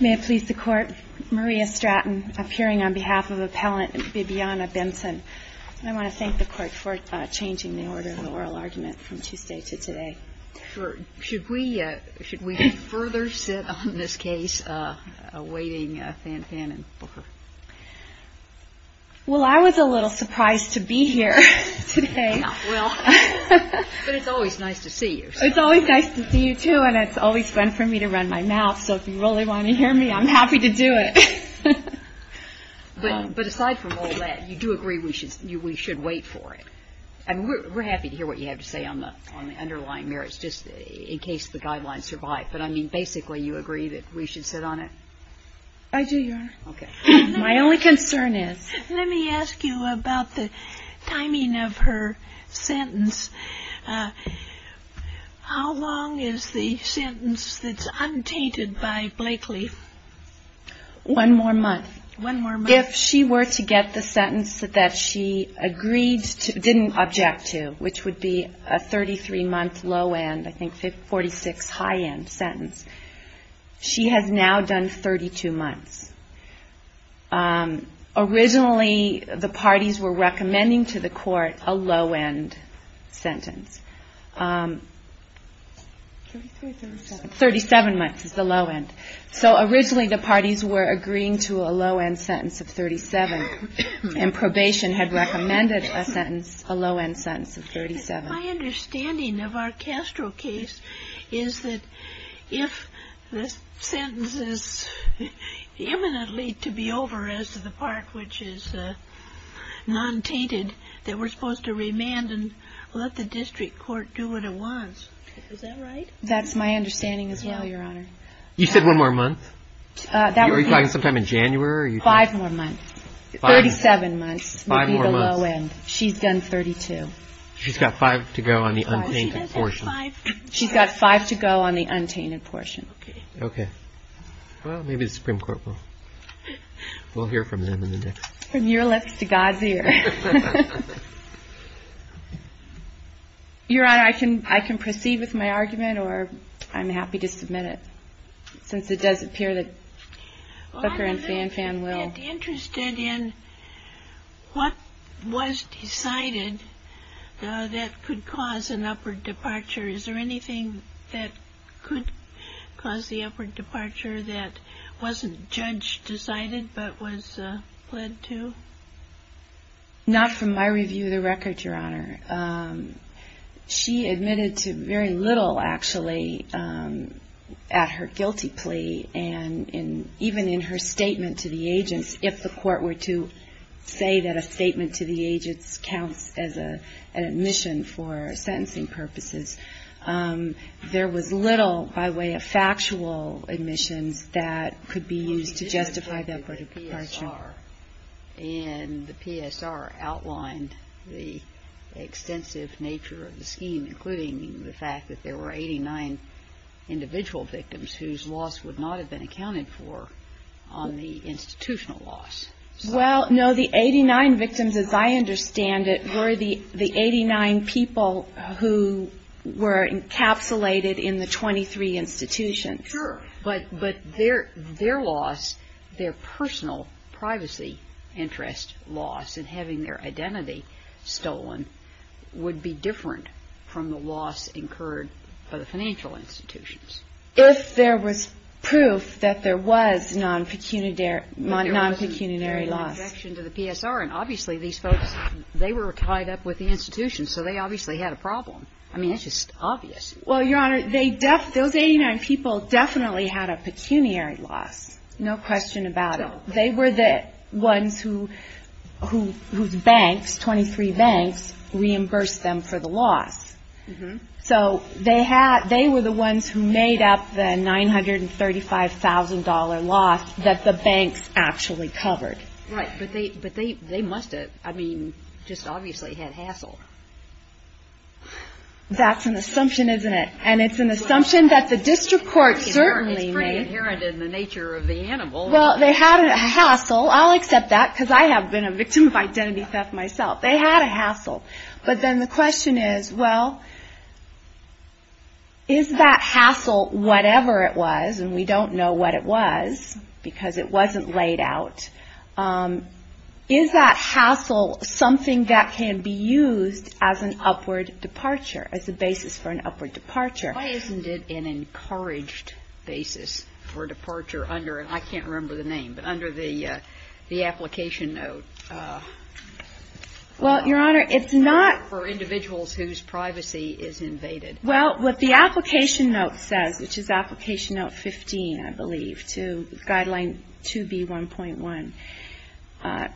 May it please the Court, Maria Stratton, appearing on behalf of Appellant Bibiana Benson. I want to thank the Court for changing the order of the oral argument from Tuesday to today. Should we further sit on this case, awaiting Fan Fan and Booker? Well, I was a little surprised to be here today. But it's always nice to see you. It's always nice to see you, too, and it's always fun for me to run my mouth, so if you really want to hear me, I'm happy to do it. But aside from all that, you do agree we should wait for it? I mean, we're happy to hear what you have to say on the underlying merits, just in case the guidelines survive. But, I mean, basically you agree that we should sit on it? I do, Your Honor. Okay. My only concern is... How long is the sentence that's untainted by Blakely? One more month. One more month? If she were to get the sentence that she agreed to, didn't object to, which would be a 33-month low-end, I think 46 high-end sentence, she has now done 32 months. Originally, the parties were recommending to the court a low-end sentence. 33 or 37? 37 months is the low-end. So originally the parties were agreeing to a low-end sentence of 37, and probation had recommended a sentence, a low-end sentence of 37. My understanding of our Castro case is that if the sentence is imminently to be over as to the part which is non-tainted, that we're supposed to remand and let the district court do what it wants. Is that right? That's my understanding as well, Your Honor. You said one more month? Are you talking sometime in January? Five more months. 37 months would be the low-end. Five more months? She's done 32. She's got five to go on the untainted portion. She's got five to go on the untainted portion. Okay. Well, maybe the Supreme Court will hear from them in the next... From your lips to God's ear. Your Honor, I can proceed with my argument, or I'm happy to submit it, since it does appear that Booker and Fanfan will... I'm interested in what was decided that could cause an upward departure. Is there anything that could cause the upward departure that wasn't judge-decided but was led to? Not from my review of the record, Your Honor. She admitted to very little, actually, at her guilty plea, and even in her statement to the agents, if the court were to say that a statement to the agents counts as an admission for sentencing purposes, there was little, by way of factual admissions, that could be used to justify that departure. And the PSR outlined the extensive nature of the scheme, including the fact that there were 89 individual victims whose loss would not have been accounted for on the institutional loss. Well, no, the 89 victims, as I understand it, were the 89 people who were encapsulated in the 23 institutions. Sure. But their loss, their personal privacy interest loss, and having their identity stolen, would be different from the loss incurred for the financial institutions. If there was proof that there was non-pecuniary loss. There was an injection to the PSR, and obviously these folks, they were tied up with the institutions, so they obviously had a problem. I mean, it's just obvious. Well, Your Honor, those 89 people definitely had a pecuniary loss. No question about it. They were the ones whose banks, 23 banks, reimbursed them for the loss. So they were the ones who made up the $935,000 loss that the banks actually covered. Right. But they must have, I mean, just obviously had hassle. That's an assumption, isn't it? And it's an assumption that the district court certainly made. It's pretty inherent in the nature of the animal. Well, they had a hassle. I'll accept that because I have been a victim of identity theft myself. They had a hassle. But then the question is, well, is that hassle, whatever it was, and we don't know what it was because it wasn't laid out, is that hassle something that can be used as an upward departure, as a basis for an upward departure? Why isn't it an encouraged basis for departure under, I can't remember the name, but under the application note? Well, Your Honor, it's not. For individuals whose privacy is invaded. Well, what the application note says, which is application note 15, I believe, to Guideline 2B1.1,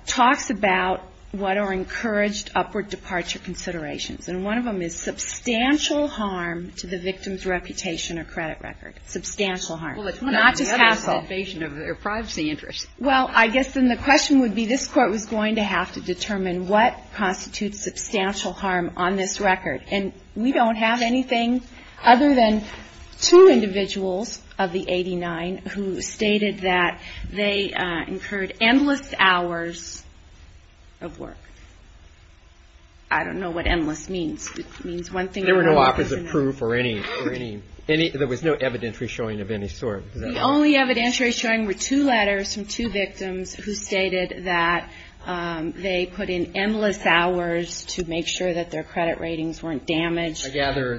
talks about what are encouraged upward departure considerations. And one of them is substantial harm to the victim's reputation or credit record. Substantial harm. Well, it's not just hassle. It's an invasion of their privacy interests. Well, I guess then the question would be, this court was going to have to determine what constitutes substantial harm on this record. And we don't have anything other than two individuals of the 89 who stated that they incurred endless hours of work. I don't know what endless means. It means one thing or another. There were no opposite proof or any, there was no evidentiary showing of any sort. The only evidentiary showing were two letters from two victims who stated that they put in endless hours to make sure that their credit ratings weren't damaged. I gather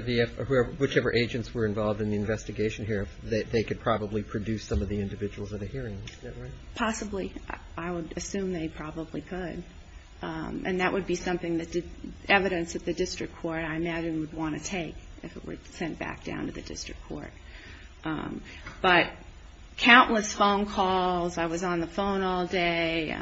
whichever agents were involved in the investigation here, they could probably produce some of the individuals at the hearings, is that right? Possibly. I would assume they probably could. And that would be something that evidence at the district court, I imagine, would want to take if it were sent back down to the district court. But countless phone calls. I was on the phone all day.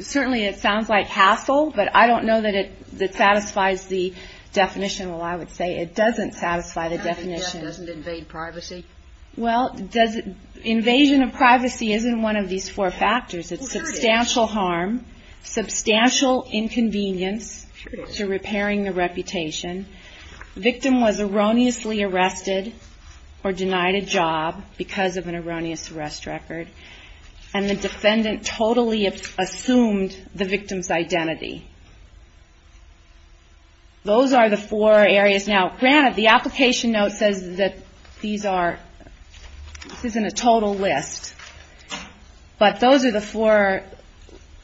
Certainly it sounds like hassle, but I don't know that it satisfies the definition. Well, I would say it doesn't satisfy the definition. It doesn't invade privacy? Well, invasion of privacy isn't one of these four factors. It's substantial harm, substantial inconvenience to repairing the reputation. The victim was erroneously arrested or denied a job because of an erroneous arrest record. And the defendant totally assumed the victim's identity. Those are the four areas. Now, granted, the application note says that these are ñ this isn't a total list. But those are the four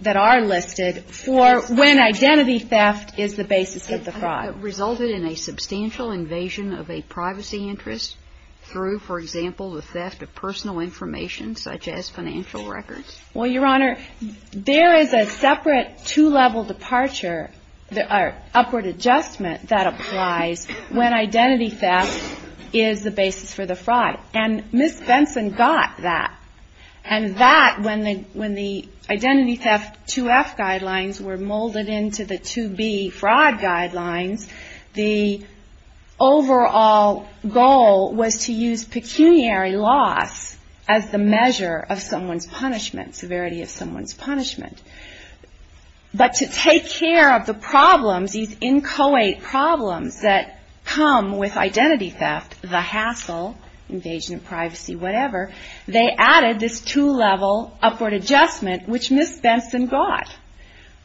that are listed for when identity theft is the basis of the fraud. It resulted in a substantial invasion of a privacy interest through, for example, the theft of personal information, such as financial records. Well, Your Honor, there is a separate two-level departure, or upward adjustment that applies when identity theft is the basis for the fraud. And Ms. Benson got that. And that, when the identity theft 2F guidelines were molded into the 2B fraud guidelines, the overall goal was to use pecuniary loss as the measure of someone's punishment, severity of someone's punishment. But to take care of the problems, these inchoate problems that come with identity theft, the hassle, invasion of privacy, whatever, they added this two-level upward adjustment which Ms. Benson got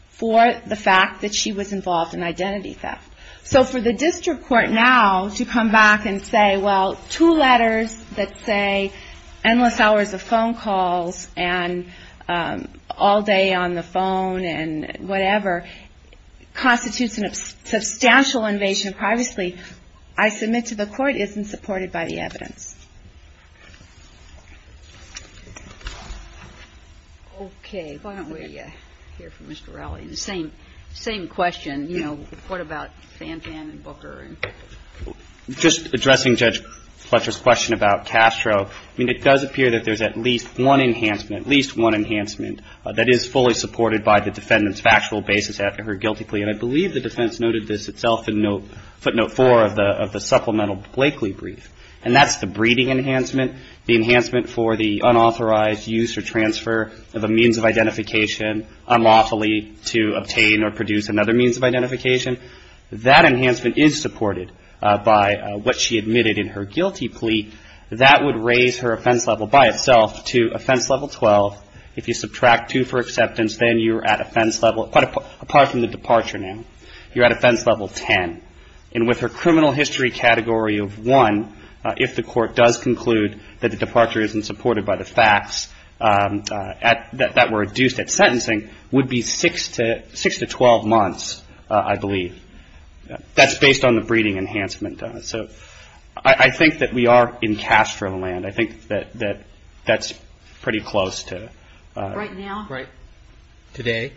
for the fact that she was involved in identity theft. So for the district court now to come back and say, well, two letters that say endless hours of phone calls and all day on the phone and whatever, constitutes a substantial invasion of privacy, I submit to the court, isn't supported by the evidence. Okay. Why don't we hear from Mr. Rowley. The same question, you know, what about Fanfan and Booker? Just addressing Judge Fletcher's question about Castro, I mean, it does appear that there's at least one enhancement, at least one enhancement that is fully supported by the defendant's factual basis after her guilty plea. And I believe the defense noted this itself in footnote four of the supplemental Blakely brief. And that's the breeding enhancement, the enhancement for the unauthorized use or transfer of a means of identification unlawfully to obtain or produce another means of identification. That enhancement is supported by what she admitted in her guilty plea. That would raise her offense level by itself to offense level 12. If you subtract two for acceptance, then you're at offense level, apart from the departure now, you're at offense level 10. And with her criminal history category of one, if the court does conclude that the departure isn't supported by the facts that were adduced at sentencing, would be six to 12 months, I believe. That's based on the breeding enhancement. So I think that we are in Castro land. I think that that's pretty close to. Right now? Right. Today?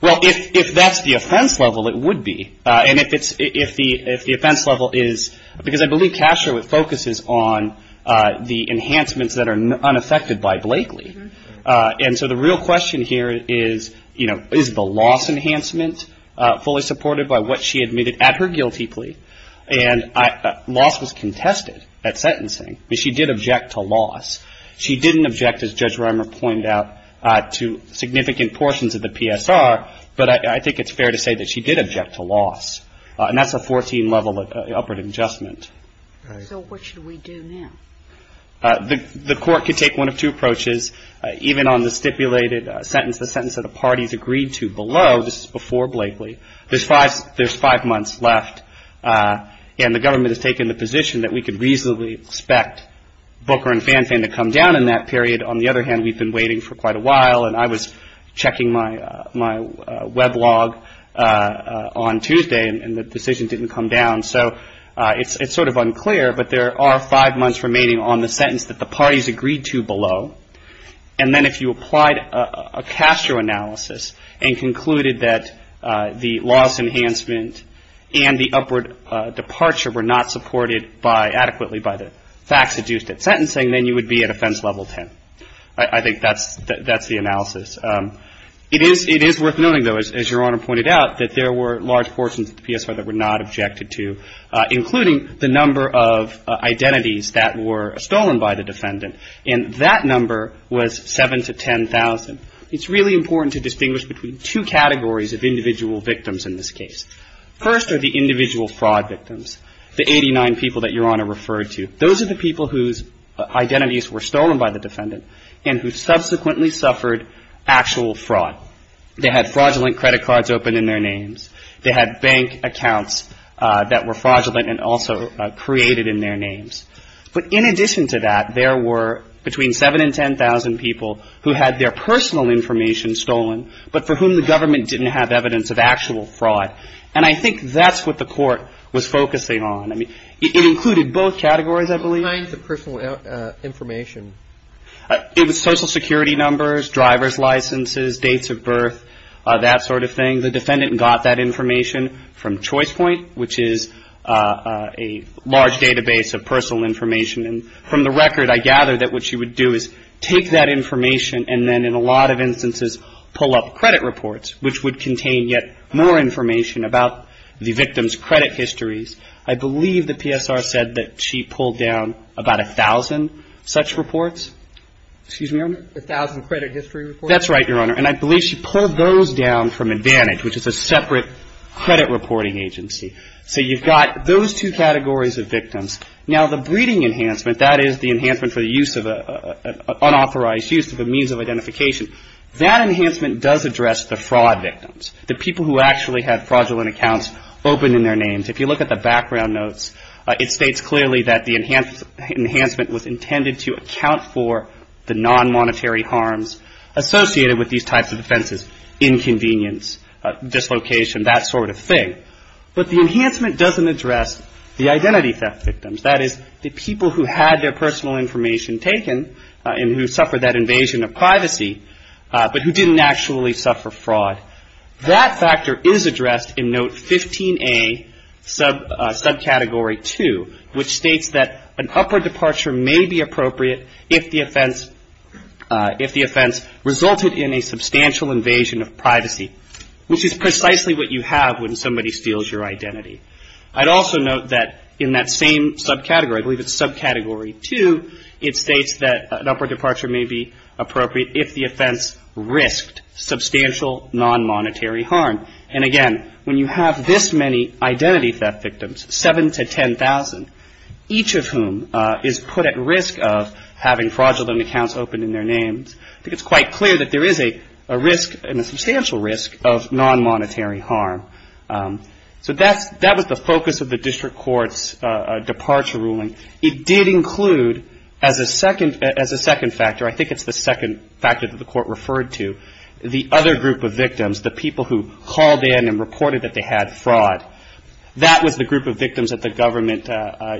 Well, if that's the offense level, it would be. And if the offense level is, because I believe Castro, it focuses on the enhancements that are unaffected by Blakely. And so the real question here is, you know, is the loss enhancement fully supported by what she admitted at her guilty plea? And loss was contested at sentencing, but she did object to loss. She didn't object, as Judge Reimer pointed out, to significant portions of the PSR, but I think it's fair to say that she did object to loss. And that's a 14-level upward adjustment. Right. So what should we do now? The court could take one of two approaches. Even on the stipulated sentence, the sentence that the parties agreed to below, this is before Blakely, there's five months left, and the government has taken the position that we could reasonably expect Booker and Fanfan to come down in that period. On the other hand, we've been waiting for quite a while, and I was checking my web log on Tuesday, and the decision didn't come down. So it's sort of unclear, but there are five months remaining on the sentence that the parties agreed to below. And then if you applied a Castro analysis and concluded that the loss enhancement and the upward departure were not supported adequately by the facts adduced at sentencing, then you would be at offense level 10. I think that's the analysis. It is worth noting, though, as Your Honor pointed out, that there were large portions of the PSY that were not objected to, including the number of identities that were stolen by the defendant, and that number was 7 to 10,000. It's really important to distinguish between two categories of individual victims in this case. First are the individual fraud victims, the 89 people that Your Honor referred to. Those are the people whose identities were stolen by the defendant and who subsequently suffered actual fraud. They had fraudulent credit cards open in their names. They had bank accounts that were fraudulent and also created in their names. But in addition to that, there were between 7 and 10,000 people who had their personal information stolen but for whom the government didn't have evidence of actual fraud. And I think that's what the Court was focusing on. It included both categories, I believe. What kind of personal information? It was Social Security numbers, driver's licenses, dates of birth, that sort of thing. The defendant got that information from Choice Point, which is a large database of personal information. And from the record, I gather that what you would do is take that information and then in a lot of instances pull up credit reports, which would contain yet more information about the victim's credit histories. I believe the PSR said that she pulled down about 1,000 such reports. Excuse me, Your Honor? 1,000 credit history reports? That's right, Your Honor. And I believe she pulled those down from Advantage, which is a separate credit reporting agency. So you've got those two categories of victims. Now, the breeding enhancement, that is the enhancement for the use of an unauthorized use of a means of identification, that enhancement does address the fraud victims, the people who actually had fraudulent accounts open in their names. If you look at the background notes, it states clearly that the enhancement was intended to account for the non-monetary harms associated with these types of offenses, inconvenience, dislocation, that sort of thing. But the enhancement doesn't address the identity theft victims, that is the people who had their personal information taken and who suffered that invasion of privacy but who didn't actually suffer fraud. That factor is addressed in Note 15A, subcategory 2, which states that an upward departure may be appropriate if the offense resulted in a substantial invasion of privacy, which is precisely what you have when somebody steals your identity. I'd also note that in that same subcategory, I believe it's subcategory 2, it states that an upward departure may be appropriate if the offense risked substantial non-monetary harm. And again, when you have this many identity theft victims, 7,000 to 10,000, each of whom is put at risk of having fraudulent accounts open in their names, I think it's quite clear that there is a risk and a substantial risk of non-monetary harm. So that was the focus of the district court's departure ruling. It did include as a second factor, I think it's the second factor that the court referred to, the other group of victims, the people who called in and reported that they had fraud. That was the group of victims that the government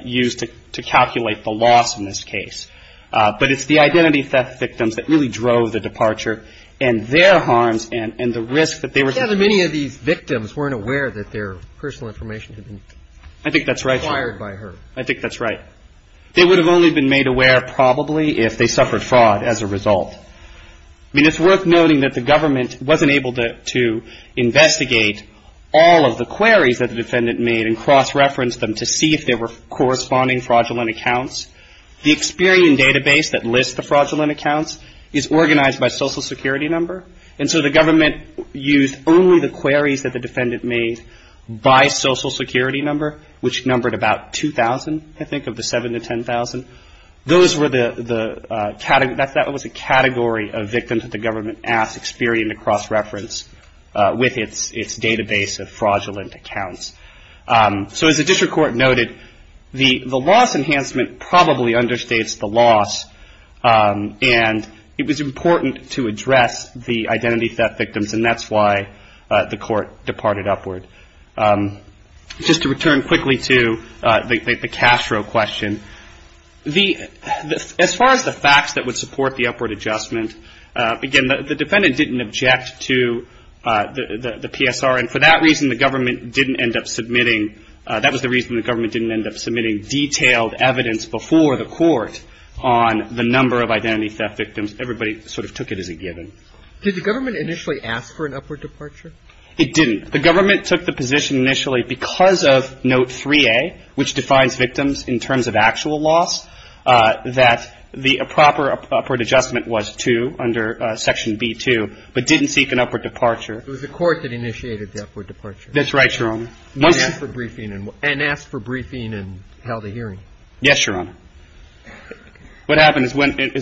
used to calculate the loss in this case. But it's the identity theft victims that really drove the departure and their harms and the risk that they were taking. Yeah, but many of these victims weren't aware that their personal information had been acquired by her. I think that's right. I think that's right. They would have only been made aware probably if they suffered fraud as a result. I mean, it's worth noting that the government wasn't able to investigate all of the queries that the defendant made and cross-referenced them to see if they were corresponding fraudulent accounts. The Experian database that lists the fraudulent accounts is organized by social security number. And so the government used only the queries that the defendant made by social security number, which numbered about 2,000, I think, of the 7,000 to 10,000. That was a category of victims that the government asked Experian to cross-reference with its database of fraudulent accounts. So as the district court noted, the loss enhancement probably understates the loss. And it was important to address the identity theft victims, and that's why the court departed upward. Just to return quickly to the Castro question, as far as the facts that would support the upward adjustment, again, the defendant didn't object to the PSR. And for that reason, the government didn't end up submitting – did the government initially ask for an upward departure? It didn't. The government took the position initially because of Note 3A, which defines victims in terms of actual loss, that the proper upward adjustment was to, under Section B2, but didn't seek an upward departure. It was the court that initiated the upward departure. That's right, Your Honor. Yes, Your Honor. What happened is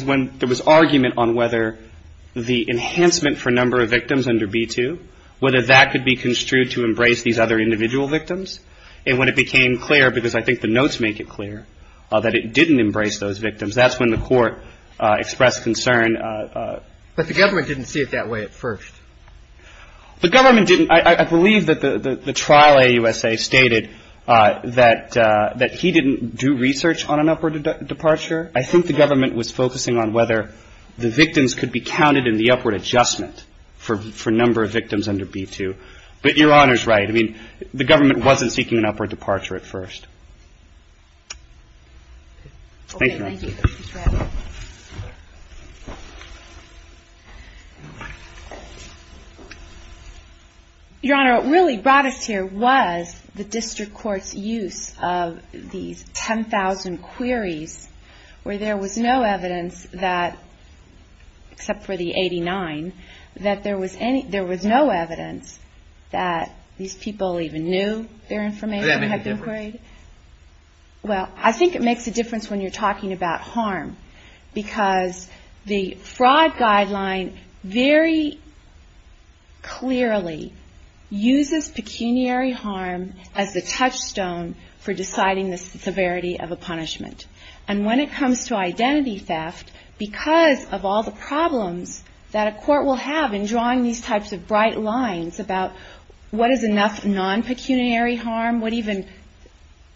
when there was argument on whether the enhancement for number of victims under B2, whether that could be construed to embrace these other individual victims, and when it became clear, because I think the notes make it clear, that it didn't embrace those victims, that's when the court expressed concern. But the government didn't see it that way at first. The government didn't. I believe that the trial AUSA stated that he didn't do research on an upward departure. I think the government was focusing on whether the victims could be counted in the upward adjustment for number of victims under B2. But Your Honor's right. I mean, the government wasn't seeking an upward departure at first. Thank you. Your Honor, what really brought us here was the district court's use of these 10,000 queries, where there was no evidence that, except for the 89, that there was no evidence that these people even knew their information had been queried. Does that make a difference? Well, I think it makes a difference when you're talking about harm, because the fraud guideline very clearly uses pecuniary harm as the touchstone for deciding the severity of a punishment. And when it comes to identity theft, because of all the problems that a court will have in drawing these types of bright lines about what is enough non-pecuniary harm, what even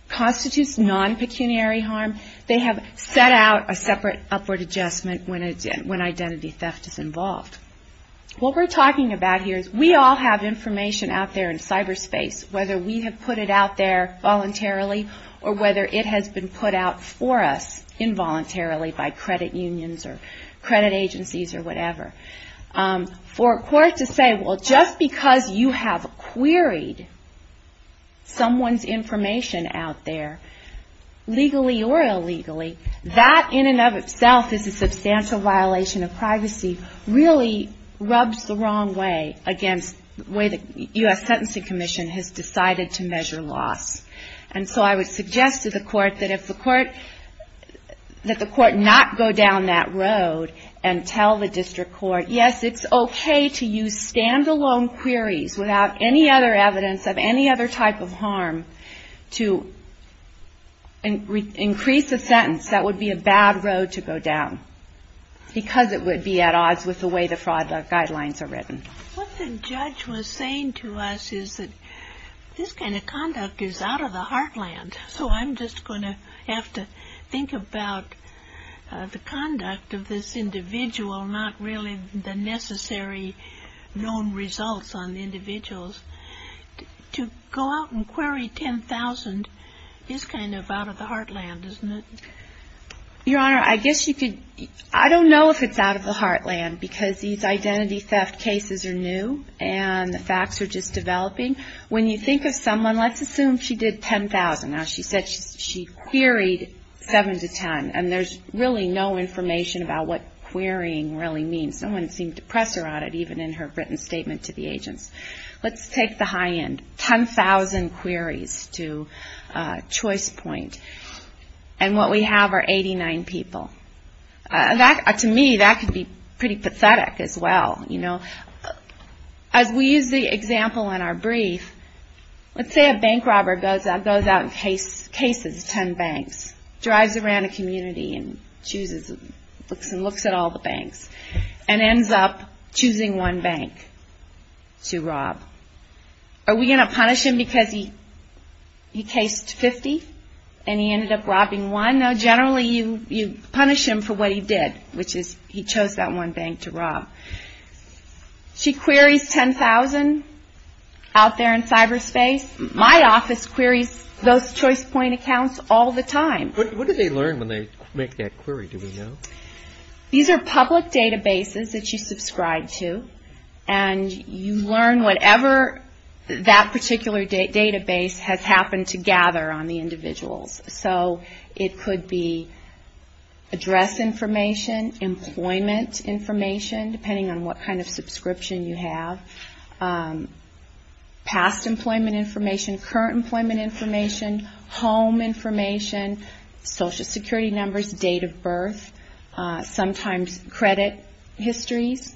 constitutes non-pecuniary harm, they have set out a separate upward adjustment when identity theft is involved. What we're talking about here is we all have information out there in cyberspace, whether we have put it out there voluntarily or whether it has been put out for us involuntarily by credit unions or credit agencies or whatever. For a court to say, well, just because you have queried someone's information out there, legally or illegally, that in and of itself is a substantial violation of privacy, really rubs the wrong way against the way the U.S. Sentencing Commission has decided to measure loss. And so I would suggest to the court that if the court, that the court not go down that road and tell the district court, yes, it's okay to use stand-alone queries without any other evidence of any other type of harm to increase a sentence, that would be a bad road to go down because it would be at odds with the way the fraud guidelines are written. What the judge was saying to us is that this kind of conduct is out of the heartland, so I'm just going to have to think about the conduct of this individual, not really the necessary known results on the individuals. To go out and query 10,000 is kind of out of the heartland, isn't it? Your Honor, I guess you could, I don't know if it's out of the heartland because these identity theft cases are new and the facts are just developing. When you think of someone, let's assume she did 10,000. Now, she said she queried 7 to 10, and there's really no information about what querying really means. No one seemed to press her on it, even in her written statement to the agents. Let's take the high end, 10,000 queries to choice point, and what we have are 89 people. To me, that could be pretty pathetic as well. As we use the example in our brief, let's say a bank robber goes out and cases 10 banks, drives around a community and looks at all the banks, and ends up choosing one bank to rob. Are we going to punish him because he cased 50 and he ended up robbing one? No, generally you punish him for what he did, which is he chose that one bank to rob. She queries 10,000 out there in cyberspace. My office queries those choice point accounts all the time. What do they learn when they make that query, do we know? These are public databases that you subscribe to, and you learn whatever that particular database has happened to gather on the individuals. So it could be address information, employment information, depending on what kind of subscription you have, past employment information, current employment information, home information, social security numbers, date of birth, sometimes credit histories.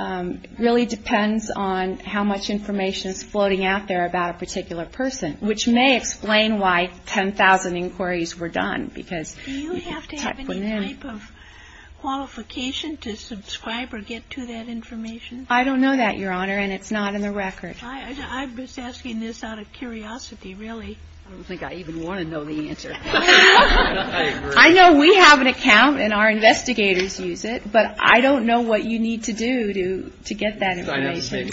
It really depends on how much information is floating out there about a particular person, which may explain why 10,000 inquiries were done. Do you have to have any type of qualification to subscribe or get to that information? I don't know that, Your Honor, and it's not in the record. I'm just asking this out of curiosity, really. I don't think I even want to know the answer. I know we have an account and our investigators use it, but I don't know what you need to do to get that information.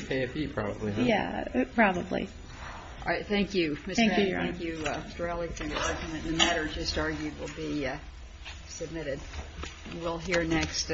Yeah, probably. All right, thank you. Thank you, Your Honor. Thank you, Mr. Rowley, for your argument. The matter just argued will be submitted. We'll hear next.